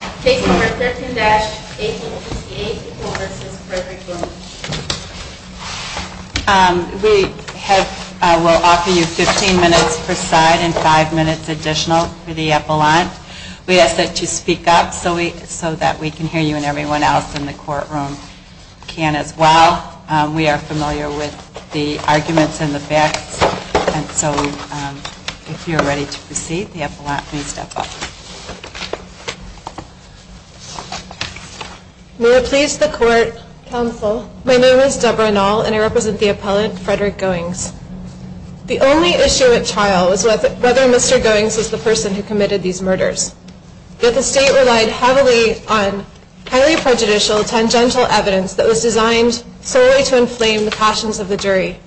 We will offer you 15 minutes per side and 5 minutes additional for the epaulant. We ask that you speak up so that we can hear you and everyone else in the courtroom can as well. We are familiar with the arguments and the facts. So if you are ready to proceed, the epaulant may step up. May it please the court, counsel, my name is Debra Nall and I represent the epaulant, Frederick Goings. The only issue at trial was whether Mr. Goings was the person who committed these murders. Yet the state relied heavily on highly prejudicial, tangential evidence that was designed solely to inflame the passions of the jury.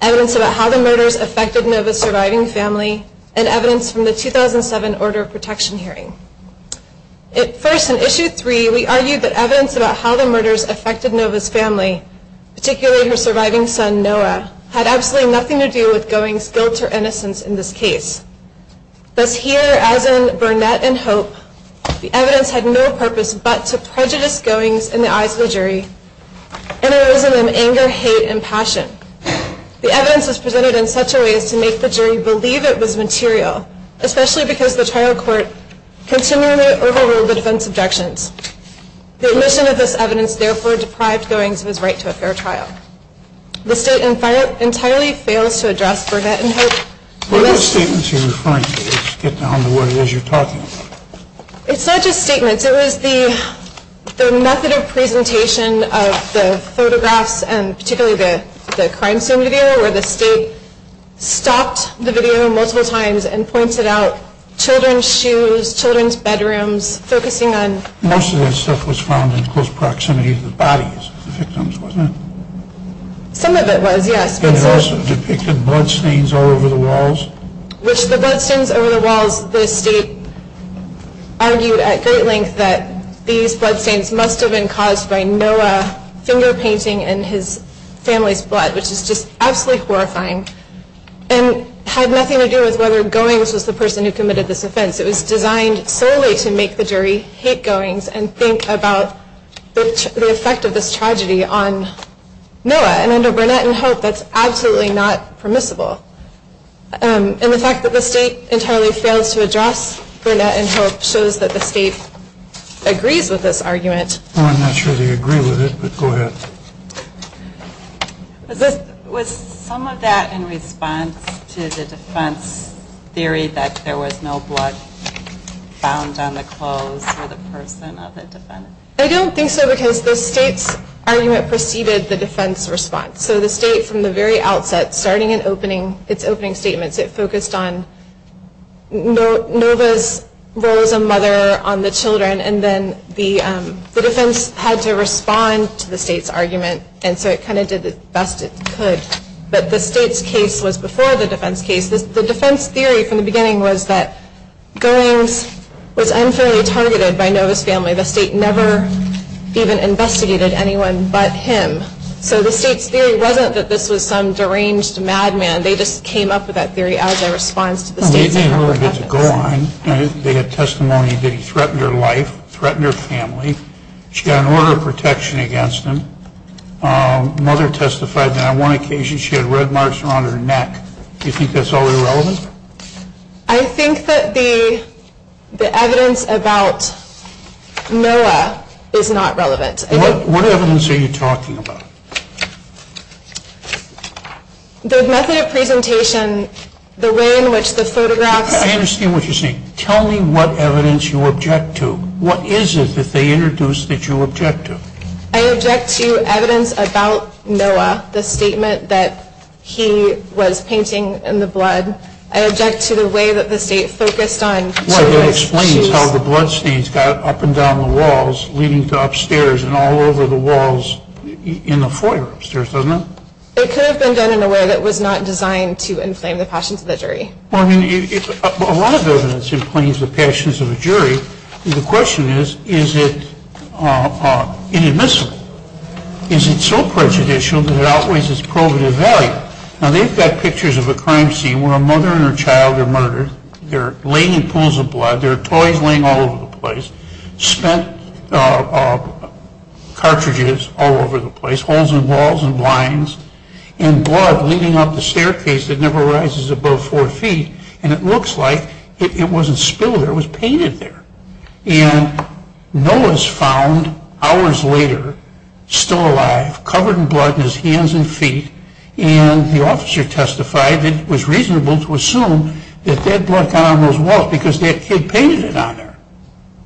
Evidence about how the murders affected Nova's surviving family and evidence from the 2007 order of protection hearing. First, in issue 3, we argued that evidence about how the murders affected Nova's family, particularly her surviving son Noah, had absolutely nothing to do with Goings' guilt or innocence in this case. Thus here, as in Burnett and Hope, the evidence had no purpose but to prejudice Goings in the eyes of the jury and arisen in anger, hate, and passion. The evidence was presented in such a way as to make the jury believe it was material, especially because the trial court continually overruled the defense objections. The admission of this evidence therefore deprived Goings of his right to a fair trial. The state entirely fails to address Burnett and Hope. What are those statements you are referring to? It's not just statements. It was the method of presentation of the photographs and particularly the crime scene video where the state stopped the video multiple times and pointed out children's shoes, children's bedrooms, focusing on... Most of that stuff was found in close proximity to the bodies of the victims, wasn't it? Some of it was, yes. And it also depicted bloodstains all over the walls? Which the bloodstains over the walls, the state argued at great length that these bloodstains must have been caused by Noah finger painting in his family's blood, which is just absolutely horrifying. And had nothing to do with whether Goings was the person who committed this offense. It was designed solely to make the jury hate Goings and think about the effect of this tragedy on Noah and under Burnett and Hope, that's absolutely not permissible. And the fact that the state entirely fails to address Burnett and Hope shows that the state agrees with this argument. I'm not sure they agree with it, but go ahead. Was some of that in response to the defense theory that there was no blood found on the clothes of the person of the defendant? I don't think so because the state's argument preceded the defense response. So the state from the very outset, starting in its opening statements, it focused on Nova's role as a mother on the children and then the defense had to respond to the state's argument. And so it kind of did the best it could. But the state's case was before the defense case. The defense theory from the beginning was that Goings was unfairly targeted by Nova's family. The state never even investigated anyone but him. So the state's theory wasn't that this was some deranged madman. They just came up with that theory as a response to the state's argument. They had testimony that he threatened her life, threatened her family. She got an order of protection against him. Mother testified that on one occasion she had red marks around her neck. Do you think that's all irrelevant? I think that the evidence about Noah is not relevant. What evidence are you talking about? The method of presentation, the way in which the photographs... I understand what you're saying. Tell me what evidence you object to. What is it that they introduced that you object to? I object to evidence about Noah, the statement that he was painting in the blood. I object to the way that the state focused on... It explains how the blood stains got up and down the walls leading to upstairs and all over the walls in the foyer upstairs, doesn't it? It could have been done in a way that was not designed to inflame the passions of the jury. A lot of evidence inflames the passions of a jury. The question is, is it inadmissible? Is it so prejudicial that it outweighs its probative value? Now, they've got pictures of a crime scene where a mother and her child are murdered. They're laying in pools of blood. There are toys laying all over the place. Spent cartridges all over the place. Holes in walls and blinds. And blood leading up the staircase that never rises above four feet. And it looks like it wasn't spilled there, it was painted there. And Noah's found, hours later, still alive, covered in blood in his hands and feet. And the officer testified that it was reasonable to assume that that blood got on those walls because that kid painted it on there.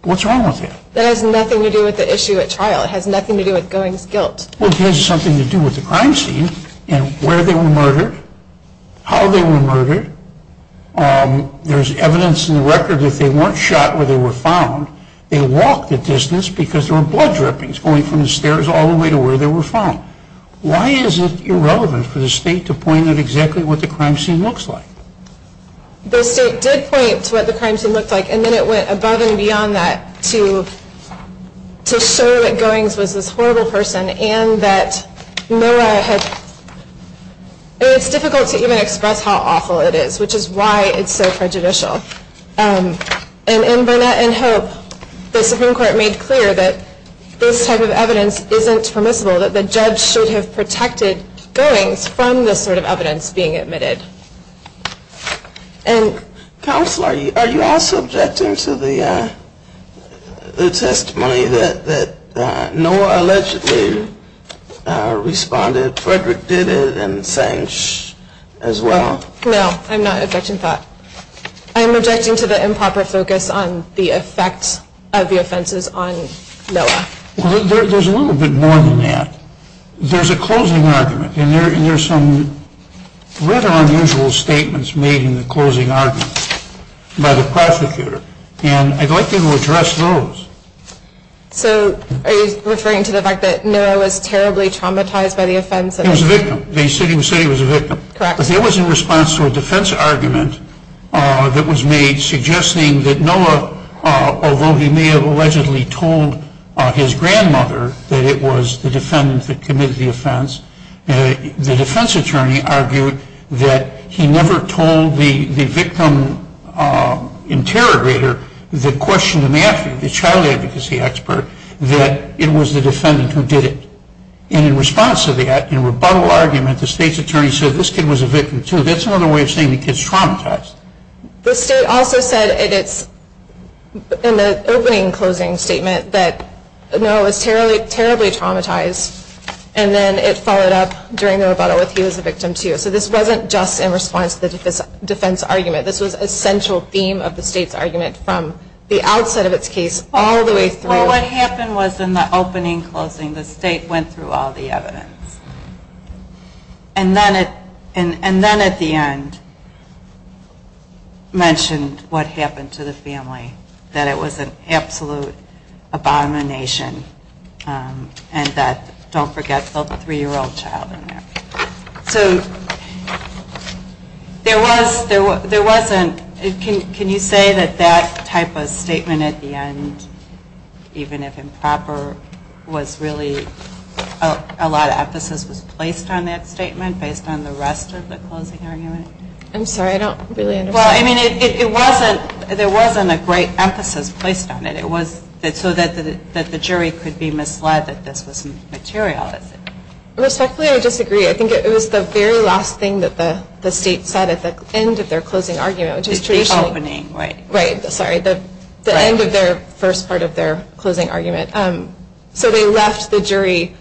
What's wrong with that? That has nothing to do with the issue at trial. It has nothing to do with Goings' guilt. Well, it has something to do with the crime scene and where they were murdered, how they were murdered. There's evidence in the record that if they weren't shot where they were found, they walked a distance because there were blood drippings going from the stairs all the way to where they were found. Why is it irrelevant for the state to point at exactly what the crime scene looks like? The state did point to what the crime scene looked like, and then it went above and beyond that to show that Goings was this horrible person and that Noah had, it's difficult to even express how awful it is, which is why it's so prejudicial. And in Burnett and Hope, the Supreme Court made clear that this type of evidence isn't permissible, that the judge should have protected Goings from this sort of evidence being admitted. And, Counselor, are you also objecting to the testimony that Noah allegedly responded, Frederick did it, and Sanch as well? No, I'm not objecting to that. I'm objecting to the improper focus on the effects of the offenses on Noah. There's a little bit more than that. There's a closing argument, and there are some rather unusual statements made in the closing argument by the prosecutor, and I'd like to address those. So are you referring to the fact that Noah was terribly traumatized by the offense? He was a victim. He said he was a victim. Correct. But there was a response to a defense argument that was made suggesting that Noah, although he may have allegedly told his grandmother that it was the defendant that committed the offense, the defense attorney argued that he never told the victim interrogator that questioned him after, the child advocacy expert, that it was the defendant who did it. And in response to that, in rebuttal argument, the state's attorney said this kid was a victim too. That's another way of saying the kid's traumatized. The state also said in the opening and closing statement that Noah was terribly traumatized, and then it followed up during the rebuttal with he was a victim too. So this wasn't just in response to the defense argument. This was a central theme of the state's argument from the outset of its case all the way through. Well, what happened was in the opening and closing, the state went through all the evidence. And then at the end mentioned what happened to the family, that it was an absolute abomination, and that don't forget the three-year-old child in there. So there was a ñ can you say that that type of statement at the end, even if improper, was really a lot of emphasis was placed on that statement based on the rest of the closing argument? I'm sorry, I don't really understand. Well, I mean, it wasn't ñ there wasn't a great emphasis placed on it. It was so that the jury could be misled that this was material. Respectfully, I disagree. I think it was the very last thing that the state said at the end of their closing argument, which was traditionally ñ The opening, right. Right, sorry, the end of their first part of their closing argument. So they left the jury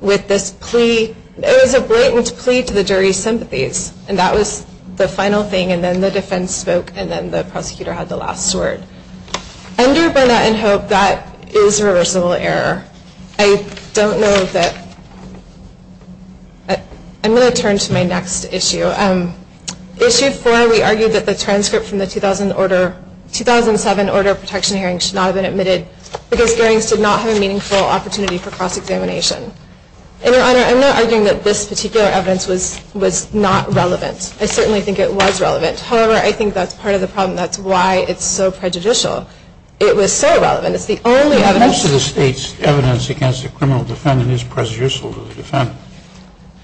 with this plea. It was a blatant plea to the jury's sympathies, and that was the final thing. And then the defense spoke, and then the prosecutor had the last word. Under Burnett and Hope, that is a reversible error. I don't know that ñ I'm going to turn to my next issue. Issue four, we argued that the transcript from the 2007 order of protection hearing should not have been admitted because hearings did not have a meaningful opportunity for cross-examination. And, Your Honor, I'm not arguing that this particular evidence was not relevant. I certainly think it was relevant. However, I think that's part of the problem. That's why it's so prejudicial. It was so relevant. It's the only evidence ñ Most of the state's evidence against a criminal defendant is prejudicial to the defendant.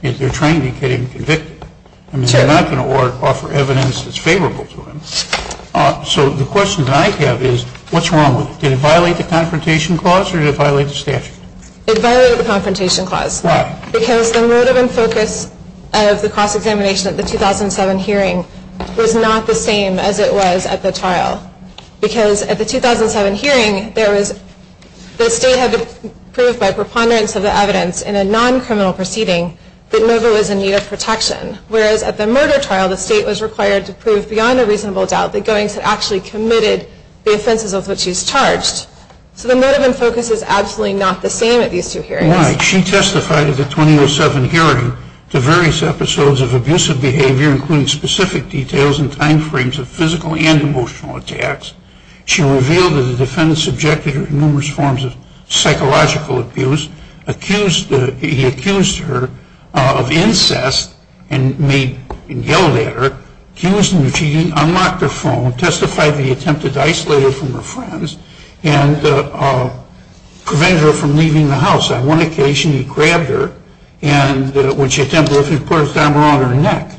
They're trying to get him convicted. I mean, they're not going to offer evidence that's favorable to him. So the question that I have is, what's wrong with it? Did it violate the Confrontation Clause or did it violate the statute? It violated the Confrontation Clause. Why? Because the motive and focus of the cross-examination at the 2007 hearing was not the same as it was at the trial. Because at the 2007 hearing, the state had to prove by preponderance of the evidence in a non-criminal proceeding that Nova was in need of protection. Whereas at the murder trial, the state was required to prove beyond a reasonable doubt that Goings had actually committed the offenses of which she was charged. So the motive and focus is absolutely not the same at these two hearings. Why? She testified at the 2007 hearing to various episodes of abusive behavior, including specific details and time frames of physical and emotional attacks. She revealed that the defendant subjected her to numerous forms of psychological abuse, he accused her of incest and yelled at her, accused her of cheating, unlocked her phone, testified that he attempted to isolate her from her friends, and prevented her from leaving the house. On one occasion, he grabbed her and, when she attempted to leave, he put a hammer on her neck.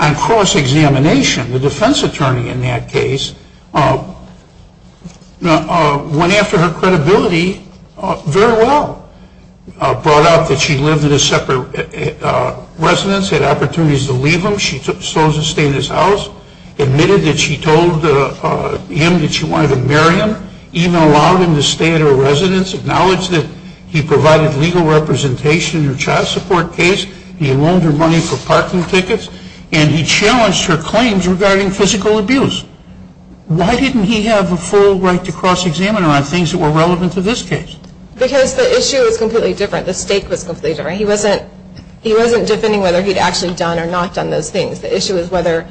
On cross-examination, the defense attorney in that case went after her credibility very well. Brought out that she lived in a separate residence, had opportunities to leave him, she chose to stay in his house, admitted that she told him that she wanted to marry him, even allowed him to stay at her residence, acknowledged that he provided legal representation in her child support case, he loaned her money for parking tickets, and he challenged her claims regarding physical abuse. Why didn't he have a full right to cross-examine her on things that were relevant to this case? Because the issue was completely different. The stake was completely different. He wasn't defending whether he'd actually done or not done those things. The issue was whether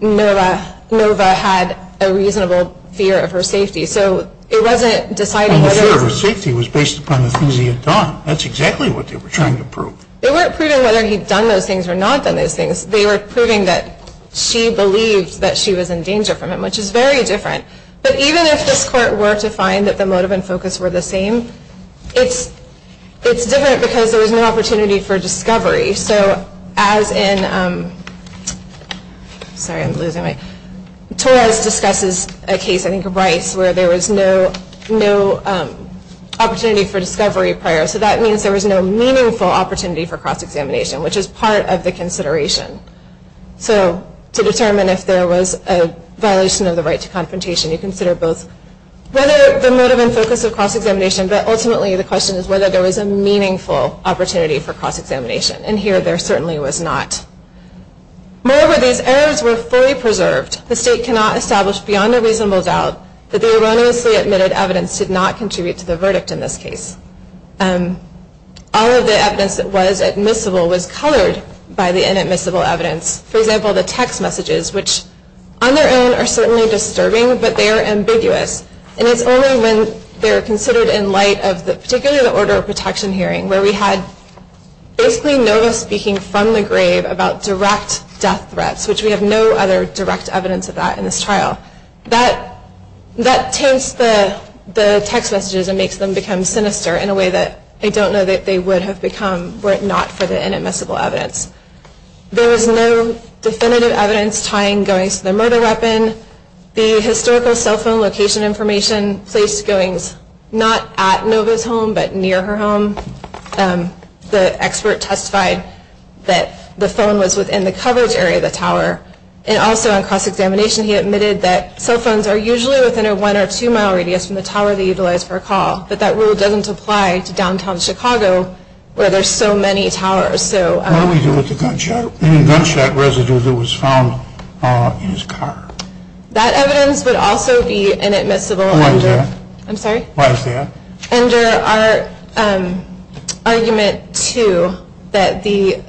Nova had a reasonable fear of her safety. So it wasn't deciding whether... The fear of her safety was based upon the things he had done. That's exactly what they were trying to prove. They weren't proving whether he'd done those things or not done those things. They were proving that she believed that she was in danger from him, which is very different. But even if this court were to find that the motive and focus were the same, it's different because there was no opportunity for discovery. So as in... Sorry, I'm losing my... Torres discusses a case, I think, of Rice, where there was no opportunity for discovery prior. So that means there was no meaningful opportunity for cross-examination, which is part of the consideration. So to determine if there was a violation of the right to confrontation, you consider both the motive and focus of cross-examination, but ultimately the question is whether there was a meaningful opportunity for cross-examination. And here there certainly was not. Moreover, these errors were fully preserved. The state cannot establish beyond a reasonable doubt that the erroneously admitted evidence did not contribute to the verdict in this case. All of the evidence that was admissible was colored by the inadmissible evidence. For example, the text messages, which on their own are certainly disturbing, but they are ambiguous. And it's only when they're considered in light of particularly the order of protection hearing, where we had basically Nova speaking from the grave about direct death threats, which we have no other direct evidence of that in this trial. That taints the text messages and makes them become sinister in a way that I don't know that they would have become were it not for the inadmissible evidence. There was no definitive evidence tying Goings to the murder weapon. The historical cell phone location information placed Goings not at Nova's home, but near her home. And also on cross-examination he admitted that cell phones are usually within a one or two mile radius from the tower they utilize for a call. But that rule doesn't apply to downtown Chicago, where there's so many towers. What do we do with the gunshot residue that was found in his car? That evidence would also be inadmissible. Why is that? I'm sorry? Why is that? Under our argument, too, that the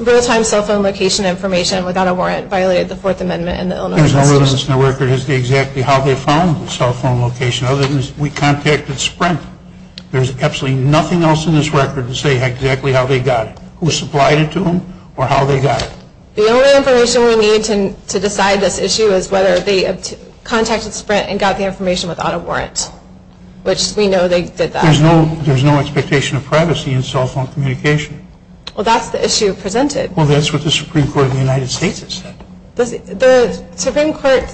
real-time cell phone location information without a warrant violated the Fourth Amendment in the Illinois Constitution. There's no evidence in the record as to exactly how they found the cell phone location, other than we contacted Sprint. There's absolutely nothing else in this record to say exactly how they got it, who supplied it to them, or how they got it. The only information we need to decide this issue is whether they contacted Sprint and got the information without a warrant, which we know they did that. There's no expectation of privacy in cell phone communication. Well, that's the issue presented. Well, that's what the Supreme Court of the United States has said. The Supreme Court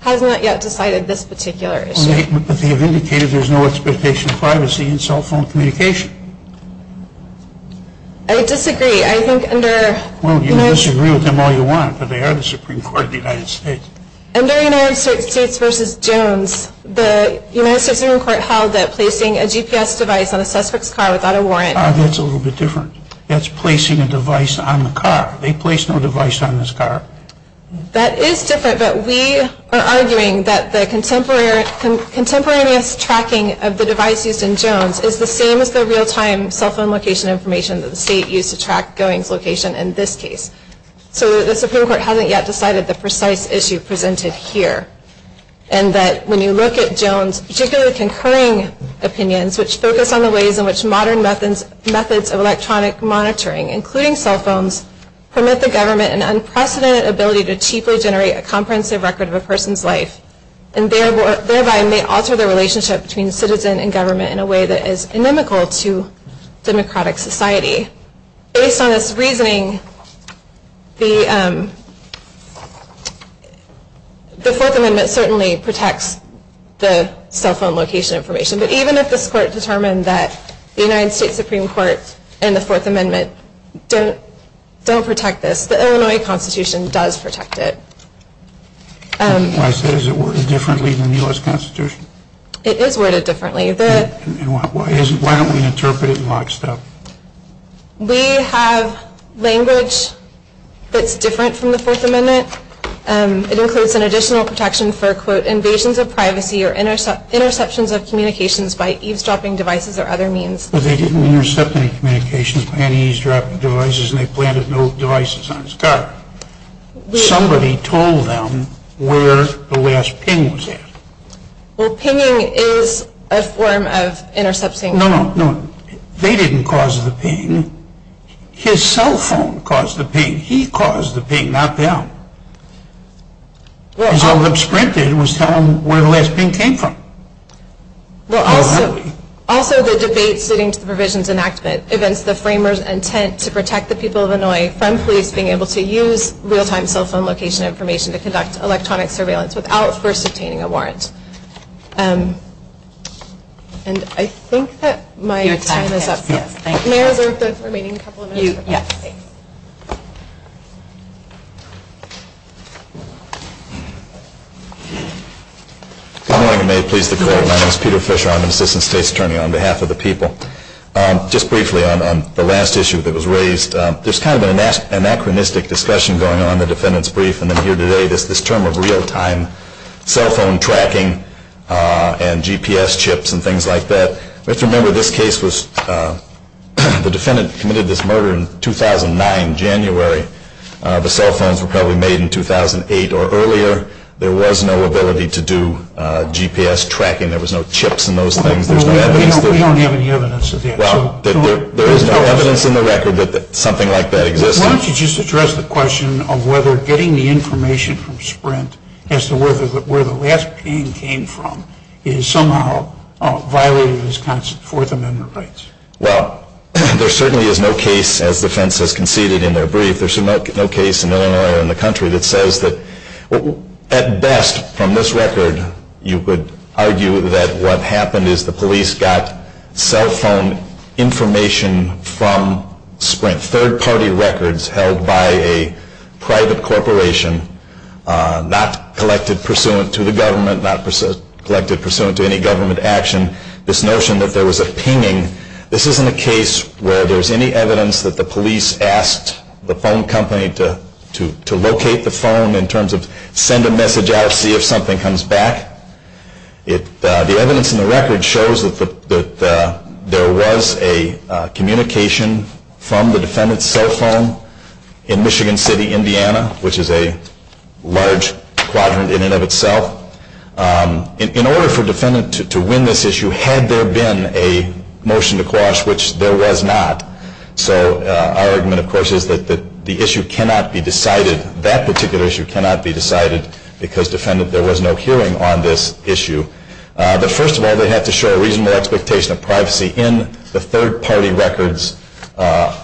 has not yet decided this particular issue. But they have indicated there's no expectation of privacy in cell phone communication. I disagree. I think under most... Well, you can disagree with them all you want, but they are the Supreme Court of the United States. Under United States v. Jones, the United States Supreme Court held that placing a GPS device on a suspect's car without a warrant... Ah, that's a little bit different. That's placing a device on the car. They place no device on this car. That is different, but we are arguing that the contemporaneous tracking of the device used in Jones is the same as the real-time cell phone location information that the state used to track Goings' location in this case. So the Supreme Court hasn't yet decided the precise issue presented here. And that when you look at Jones, particularly concurring opinions, which focus on the ways in which modern methods of electronic monitoring, including cell phones, permit the government an unprecedented ability to cheaply generate a comprehensive record of a person's life, and thereby may alter the relationship between citizen and government in a way that is inimical to democratic society. Based on this reasoning, the Fourth Amendment certainly protects the cell phone location information, but even if this Court determined that the United States Supreme Court and the Fourth Amendment don't protect this, the Illinois Constitution does protect it. Why is it worded differently than the U.S. Constitution? It is worded differently. Why don't we interpret it in lockstep? We have language that's different from the Fourth Amendment. It includes an additional protection for, quote, invasions of privacy or interceptions of communications by eavesdropping devices or other means. But they didn't intercept any communications by any eavesdropping devices, and they planted no devices on his car. Somebody told them where the last ping was at. Well, pinging is a form of intercepting. No, no, no. They didn't cause the ping. His cell phone caused the ping. He caused the ping, not them. All that was printed was telling them where the last ping came from. Also, the debate sitting to the provisions enactment prevents the framers' intent to protect the people of Illinois from police being able to use real-time cell phone location information to conduct electronic surveillance without first obtaining a warrant. And I think that my time is up. May I reserve the remaining couple of minutes? Yes. Good morning. May it please the Court. My name is Peter Fisher. I'm an Assistant State's Attorney on behalf of the people. Just briefly on the last issue that was raised, there's kind of an anachronistic discussion going on in the defendant's brief and then here today, this term of real-time cell phone tracking and GPS chips and things like that. We have to remember this case was the defendant committed this murder in 2009, January. The cell phones were probably made in 2008 or earlier. There was no ability to do GPS tracking. There was no chips in those things. We don't have any evidence of that. Well, there is no evidence in the record that something like that existed. Why don't you just address the question of whether getting the information from Sprint as to where the last ping came from is somehow violating Wisconsin's Fourth Amendment rights. Well, there certainly is no case, as the defense has conceded in their brief, there's no case in Illinois or in the country that says that at best, from this record, you could argue that what happened is the police got cell phone information from Sprint, third-party records held by a private corporation, not collected pursuant to the government, not collected pursuant to any government action. This notion that there was a pinging, this isn't a case where there's any evidence that the police asked the phone company to locate the phone in terms of send a message out, see if something comes back. The evidence in the record shows that there was a communication from the defendant's cell phone in Michigan City, Indiana, which is a large quadrant in and of itself. In order for a defendant to win this issue, had there been a motion to quash, which there was not, so our argument, of course, is that the issue cannot be decided, that particular issue cannot be decided because, defendant, there was no hearing on this issue. But first of all, they have to show a reasonable expectation of privacy in the third-party records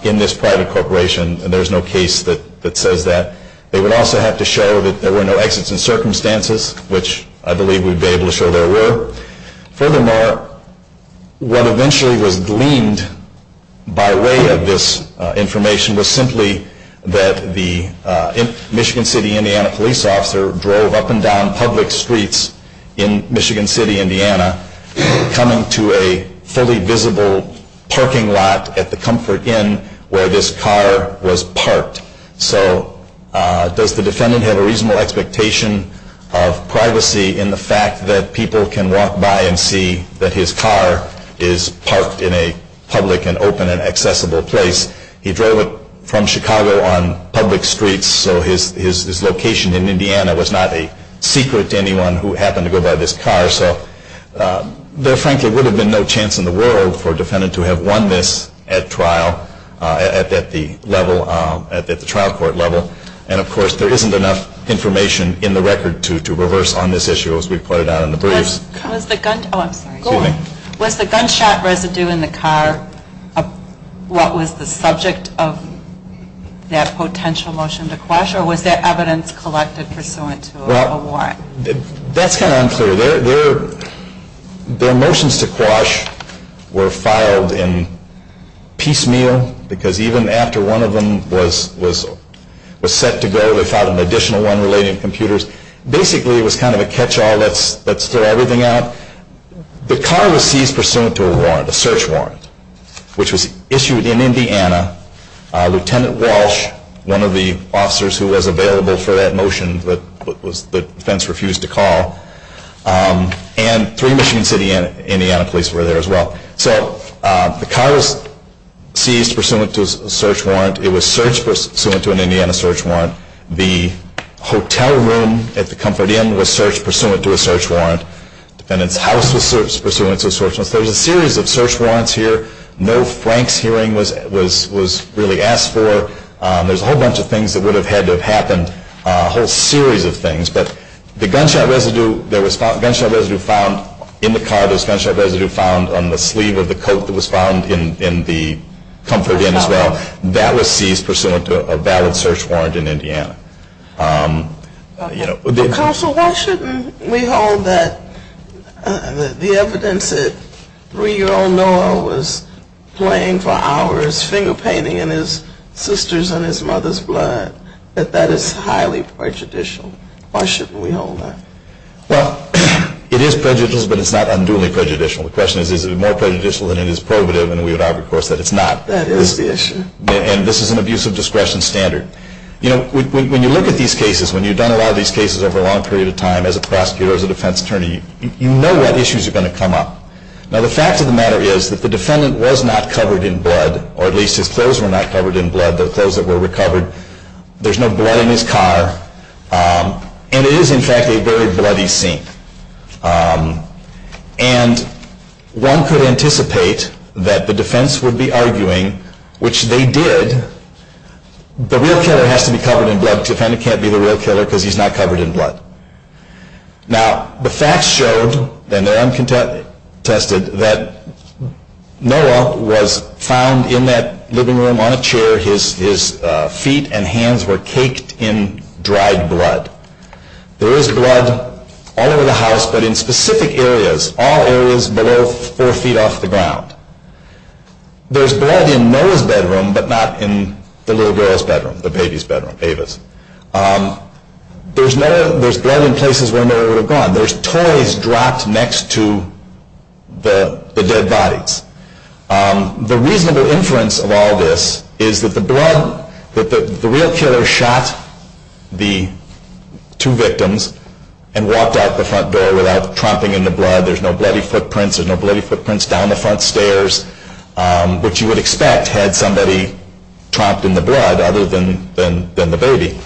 in this private corporation, and there's no case that says that. They would also have to show that there were no exits in circumstances, which I believe we would be able to show there were. Furthermore, what eventually was gleaned by way of this information was simply that the Michigan City, Indiana, police officer drove up and down public streets in Michigan City, Indiana, coming to a fully visible parking lot at the Comfort Inn where this car was parked. So does the defendant have a reasonable expectation of privacy in the fact that people can walk by and see that his car is parked in a public and open and accessible place? He drove it from Chicago on public streets, so his location in Indiana was not a secret to anyone who happened to go by this car. So there, frankly, would have been no chance in the world for a defendant to have won this at trial at the level, at the trial court level. And of course, there isn't enough information in the record to reverse on this issue as we put it out in the briefs. Was the gunshot residue in the car what was the subject of that potential motion to quash or was that evidence collected pursuant to a warrant? That's kind of unclear. Their motions to quash were filed in piecemeal because even after one of them was set to go, they filed an additional one relating to computers. Basically, it was kind of a catch-all, let's throw everything out. The car was seized pursuant to a warrant, a search warrant, which was issued in Indiana. Lieutenant Walsh, one of the officers who was available for that motion, but the defense refused to call, and three Michigan City Indiana police were there as well. So the car was seized pursuant to a search warrant. It was searched pursuant to an Indiana search warrant. The hotel room at the Comfort Inn was searched pursuant to a search warrant. The defendant's house was searched pursuant to a search warrant. There was a series of search warrants here. No Franks hearing was really asked for. There was a whole bunch of things that would have had to have happened, a whole series of things. But the gunshot residue found in the car, there was gunshot residue found on the sleeve of the coat that was found in the Comfort Inn as well. That was seized pursuant to a valid search warrant in Indiana. Counsel, why shouldn't we hold that the evidence that three-year-old Noah was playing for hours, finger-painting in his sister's and his mother's blood, that that is highly prejudicial? Why shouldn't we hold that? Well, it is prejudicial, but it's not unduly prejudicial. The question is, is it more prejudicial than it is prohibitive, and we would argue, of course, that it's not. That is the issue. And this is an abuse of discretion standard. When you look at these cases, when you've done a lot of these cases over a long period of time, as a prosecutor, as a defense attorney, you know what issues are going to come up. Now, the fact of the matter is that the defendant was not covered in blood, or at least his clothes were not covered in blood, the clothes that were recovered. There's no blood in his car. And it is, in fact, a very bloody scene. And one could anticipate that the defense would be arguing, which they did, that the real killer has to be covered in blood. The defendant can't be the real killer because he's not covered in blood. Now, the facts showed, and they're uncontested, that Noah was found in that living room on a chair. His feet and hands were caked in dried blood. There is blood all over the house, but in specific areas, all areas below four feet off the ground. There's blood in Noah's bedroom, but not in the little girl's bedroom, the baby's bedroom, Ava's. There's blood in places where Noah would have gone. There's toys dropped next to the dead bodies. The reasonable inference of all this is that the blood, that the real killer shot the two victims and walked out the front door without tromping into blood. There's no bloody footprints. There's no bloody footprints down the front stairs, which you would expect had somebody tromped in the blood other than the baby.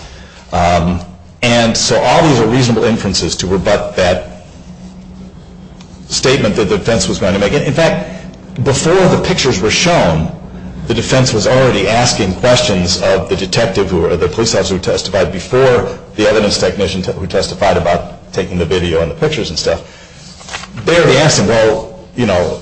And so all these are reasonable inferences to rebut that statement that the defense was going to make. In fact, before the pictures were shown, the defense was already asking questions of the detective or the police officer who testified before the evidence technician who testified about taking the video and the pictures and stuff. They were asking, well, you know,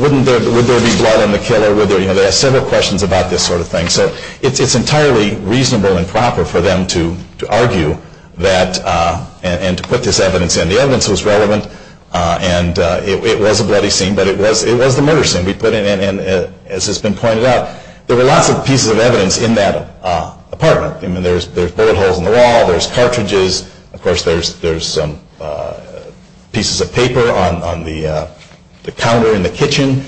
would there be blood in the killer? They asked several questions about this sort of thing. So it's entirely reasonable and proper for them to argue that and to put this evidence in. The evidence was relevant, and it was a bloody scene, but it was the murder scene. And as has been pointed out, there were lots of pieces of evidence in that apartment. I mean, there's bullet holes in the wall. There's cartridges. Of course, there's pieces of paper on the counter in the kitchen.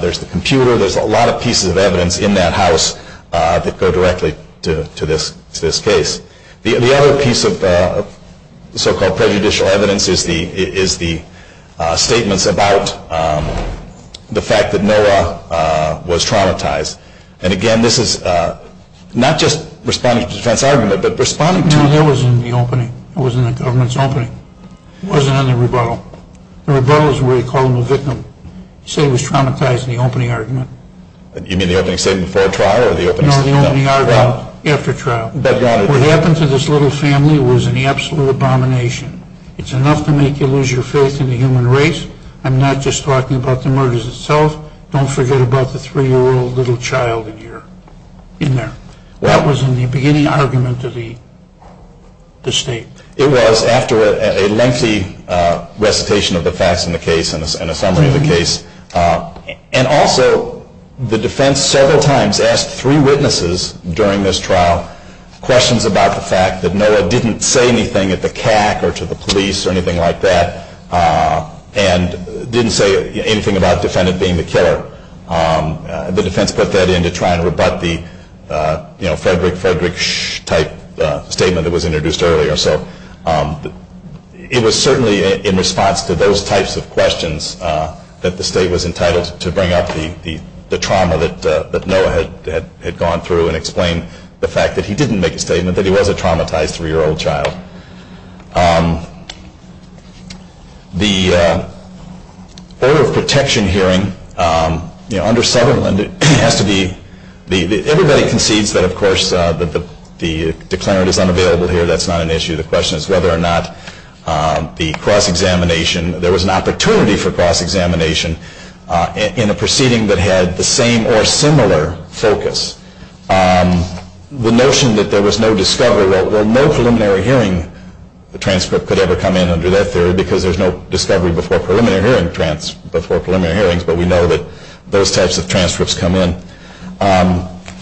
There's the computer. There's a lot of pieces of evidence in that house that go directly to this case. The other piece of so-called prejudicial evidence is the statements about the fact that Noah was traumatized. And, again, this is not just responding to the defense argument, but responding to the... No, that was in the opening. It was in the government's opening. It wasn't in the rebuttal. The rebuttal is where you call him a victim. You say he was traumatized in the opening argument. You mean the opening statement before trial or the opening statement... No, the opening argument after trial. What happened to this little family was an absolute abomination. It's enough to make you lose your faith in the human race. I'm not just talking about the murders itself. Don't forget about the three-year-old little child in there. That was in the beginning argument of the state. It was after a lengthy recitation of the facts in the case and a summary of the case. And also the defense several times asked three witnesses during this trial questions about the fact that Noah didn't say anything at the CAC or to the police or anything like that and didn't say anything about the defendant being the killer. The defense put that in to try and rebut the Frederick, Frederick, shh type statement that was introduced earlier. So it was certainly in response to those types of questions that the state was entitled to bring up the trauma that Noah had gone through and explain the fact that he didn't make a statement that he was a traumatized three-year-old child. The order of protection hearing under Sutherland has to be... Everybody concedes that, of course, the declarant is unavailable here. That's not an issue. The question is whether or not the cross-examination... There was an opportunity for cross-examination in a proceeding that had the same or similar focus. The notion that there was no discovery... Well, no preliminary hearing transcript could ever come in under that theory because there's no discovery before preliminary hearings. But we know that those types of transcripts come in.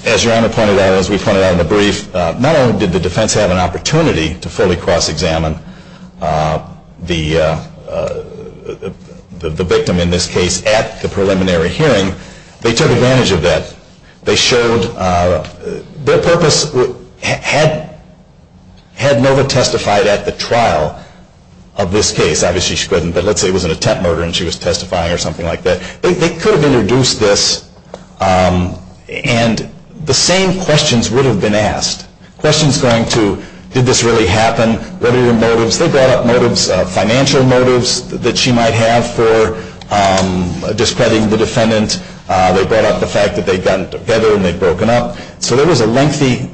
As Your Honor pointed out, as we pointed out in the brief, not only did the defense have an opportunity to fully cross-examine the victim in this case at the preliminary hearing, they took advantage of that. They showed their purpose... Had Noah testified at the trial of this case, obviously she couldn't, but let's say it was an attempt murder and she was testifying or something like that, they could have introduced this and the same questions would have been asked. Questions going to, did this really happen? What are your motives? They brought up motives, financial motives that she might have for discrediting the defendant. They brought up the fact that they'd gotten together and they'd broken up. So there was a lengthy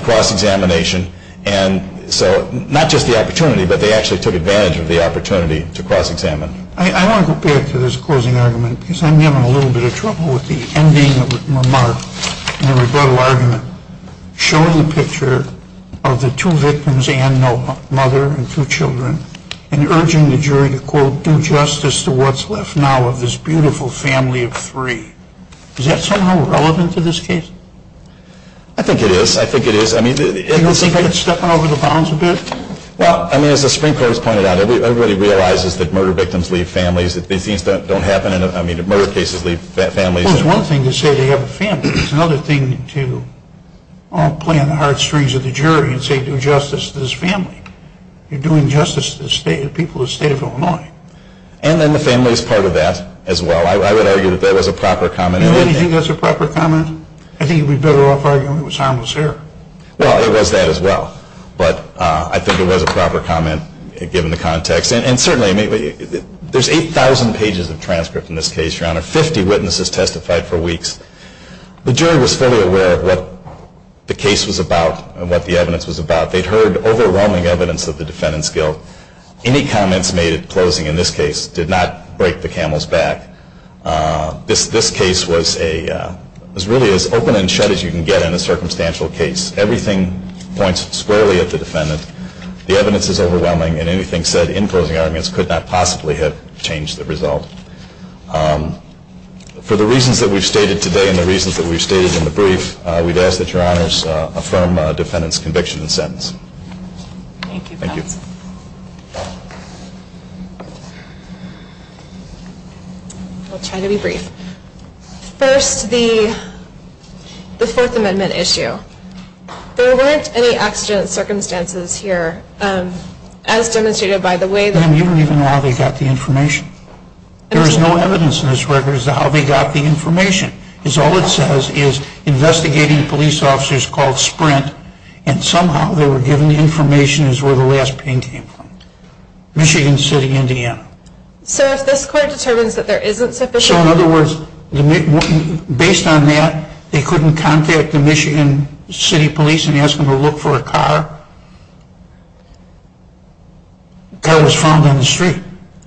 cross-examination. And so not just the opportunity, but they actually took advantage of the opportunity to cross-examine. I want to go back to this closing argument because I'm having a little bit of trouble with the ending remark in the rebuttal argument showing the picture of the two victims and Noah, mother and two children, and urging the jury to, quote, do justice to what's left now of this beautiful family of three. Is that somehow relevant to this case? I think it is. I think it is. Do you think it's stepping over the bounds a bit? Well, I mean, as the Supreme Court has pointed out, everybody realizes that murder victims leave families. These things don't happen. I mean, murder cases leave families. Well, it's one thing to say they have a family. It's another thing to play on the hard strings of the jury and say do justice to this family. You're doing justice to the people of the state of Illinois. And then the family is part of that as well. I would argue that that was a proper comment. Do you think that's a proper comment? I think you'd be better off arguing it was harmless error. Well, it was that as well. But I think it was a proper comment given the context. And certainly there's 8,000 pages of transcript in this case, Your Honor. Fifty witnesses testified for weeks. The jury was fully aware of what the case was about and what the evidence was about. They'd heard overwhelming evidence of the defendant's guilt. Any comments made at closing in this case did not break the camel's back. This case was really as open and shut as you can get in a circumstantial case. Everything points squarely at the defendant. The evidence is overwhelming. And anything said in closing arguments could not possibly have changed the result. For the reasons that we've stated today and the reasons that we've stated in the brief, we'd ask that Your Honors affirm the defendant's conviction and sentence. Thank you, counsel. Thank you. I'll try to be brief. First, the Fourth Amendment issue. There weren't any accident circumstances here, as demonstrated by the way that You don't even know how they got the information. There is no evidence in this record as to how they got the information. All it says is investigating police officers called Sprint, and somehow they were given the information as where the last pain came from, Michigan City, Indiana. So if this court determines that there isn't sufficient... So, in other words, based on that, they couldn't contact the Michigan City police and ask them to look for a car? The car was found on the street.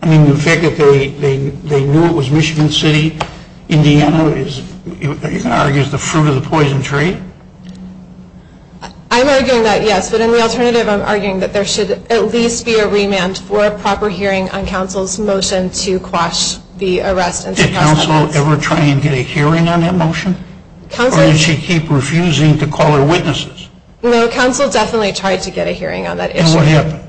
I mean, the fact that they knew it was Michigan City, Indiana, you can argue is the fruit of the poison tree? I'm arguing that, yes. But in the alternative, I'm arguing that there should at least be a remand for a proper hearing on counsel's motion to quash the arrest. Did counsel ever try and get a hearing on that motion? Or did she keep refusing to call her witnesses? No, counsel definitely tried to get a hearing on that issue. And what happened?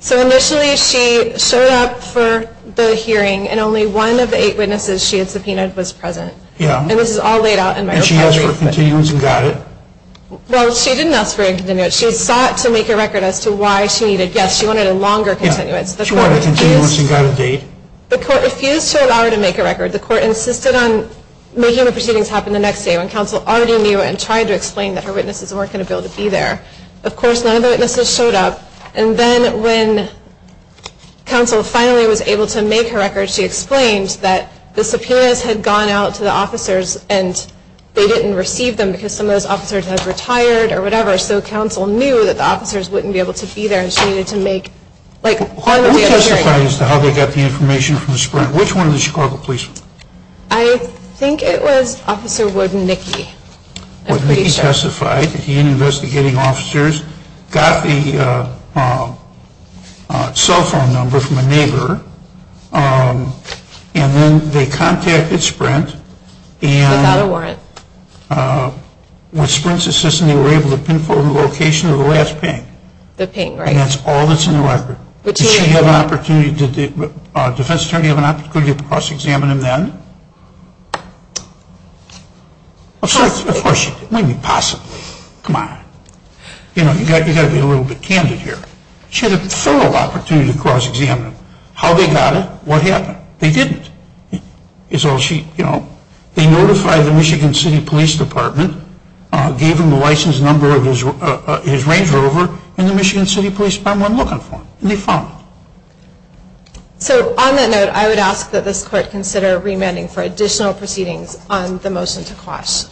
So initially she showed up for the hearing, and only one of the eight witnesses she had subpoenaed was present. And this is all laid out in my report. And she asked for a continuance and got it? Well, she didn't ask for a continuance. She sought to make a record as to why she needed... She wanted a continuance and got a date? The court refused to allow her to make a record. The court insisted on making the proceedings happen the next day when counsel already knew and tried to explain that her witnesses weren't going to be able to be there. Of course, none of the witnesses showed up. And then when counsel finally was able to make her record, she explained that the subpoenas had gone out to the officers and they didn't receive them because some of those officers had retired or whatever. So counsel knew that the officers wouldn't be able to be there and she needed to make... Who testified as to how they got the information from the Sprint? Which one of the Chicago police? I think it was Officer Wooden Nicky. I'm pretty sure. Wooden Nicky testified that he and investigating officers got the cell phone number from a neighbor and then they contacted Sprint and... Without a warrant. With Sprint's assistance, they were able to pinpoint the location of the last ping. The ping, right. And that's all that's in the record. Did she have an opportunity... Did the defense attorney have an opportunity to cross-examine him then? Of course she did. It wouldn't be possible. Come on. You know, you've got to be a little bit candid here. She had a thorough opportunity to cross-examine him. How they got it? What happened? They didn't. They notified the Michigan City Police Department, gave him the license number of his Range Rover, and the Michigan City Police Department went looking for him. And they found him. So on that note, I would ask that this court consider remanding for additional proceedings on the motion to quash.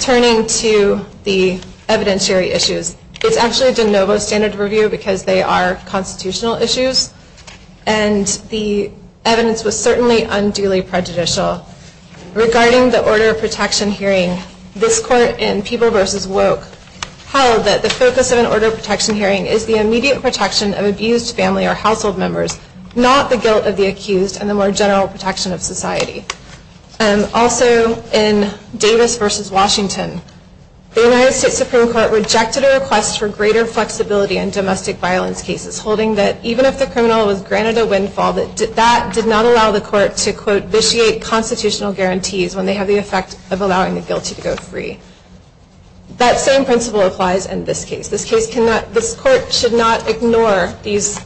Turning to the evidentiary issues, it's actually a de novo standard of review because they are constitutional issues, and the evidence was certainly unduly prejudicial. Regarding the order of protection hearing, this court in Peeble v. Woke held that the focus of an order of protection hearing is the immediate protection of abused family or household members, not the guilt of the accused and the more general protection of society. Also, in Davis v. Washington, the United States Supreme Court rejected a request for greater flexibility in domestic violence cases, holding that even if the criminal was granted a windfall, that that did not allow the court to, quote, That same principle applies in this case. This court should not ignore these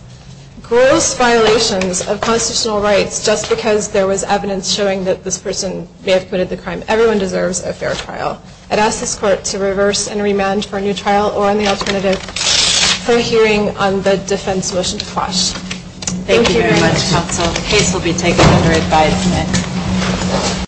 gross violations of constitutional rights just because there was evidence showing that this person may have committed the crime. Everyone deserves a fair trial. I'd ask this court to reverse and remand for a new trial or, on the alternative, for a hearing on the defense motion to quash. Thank you very much, counsel. The case will be taken under advisement.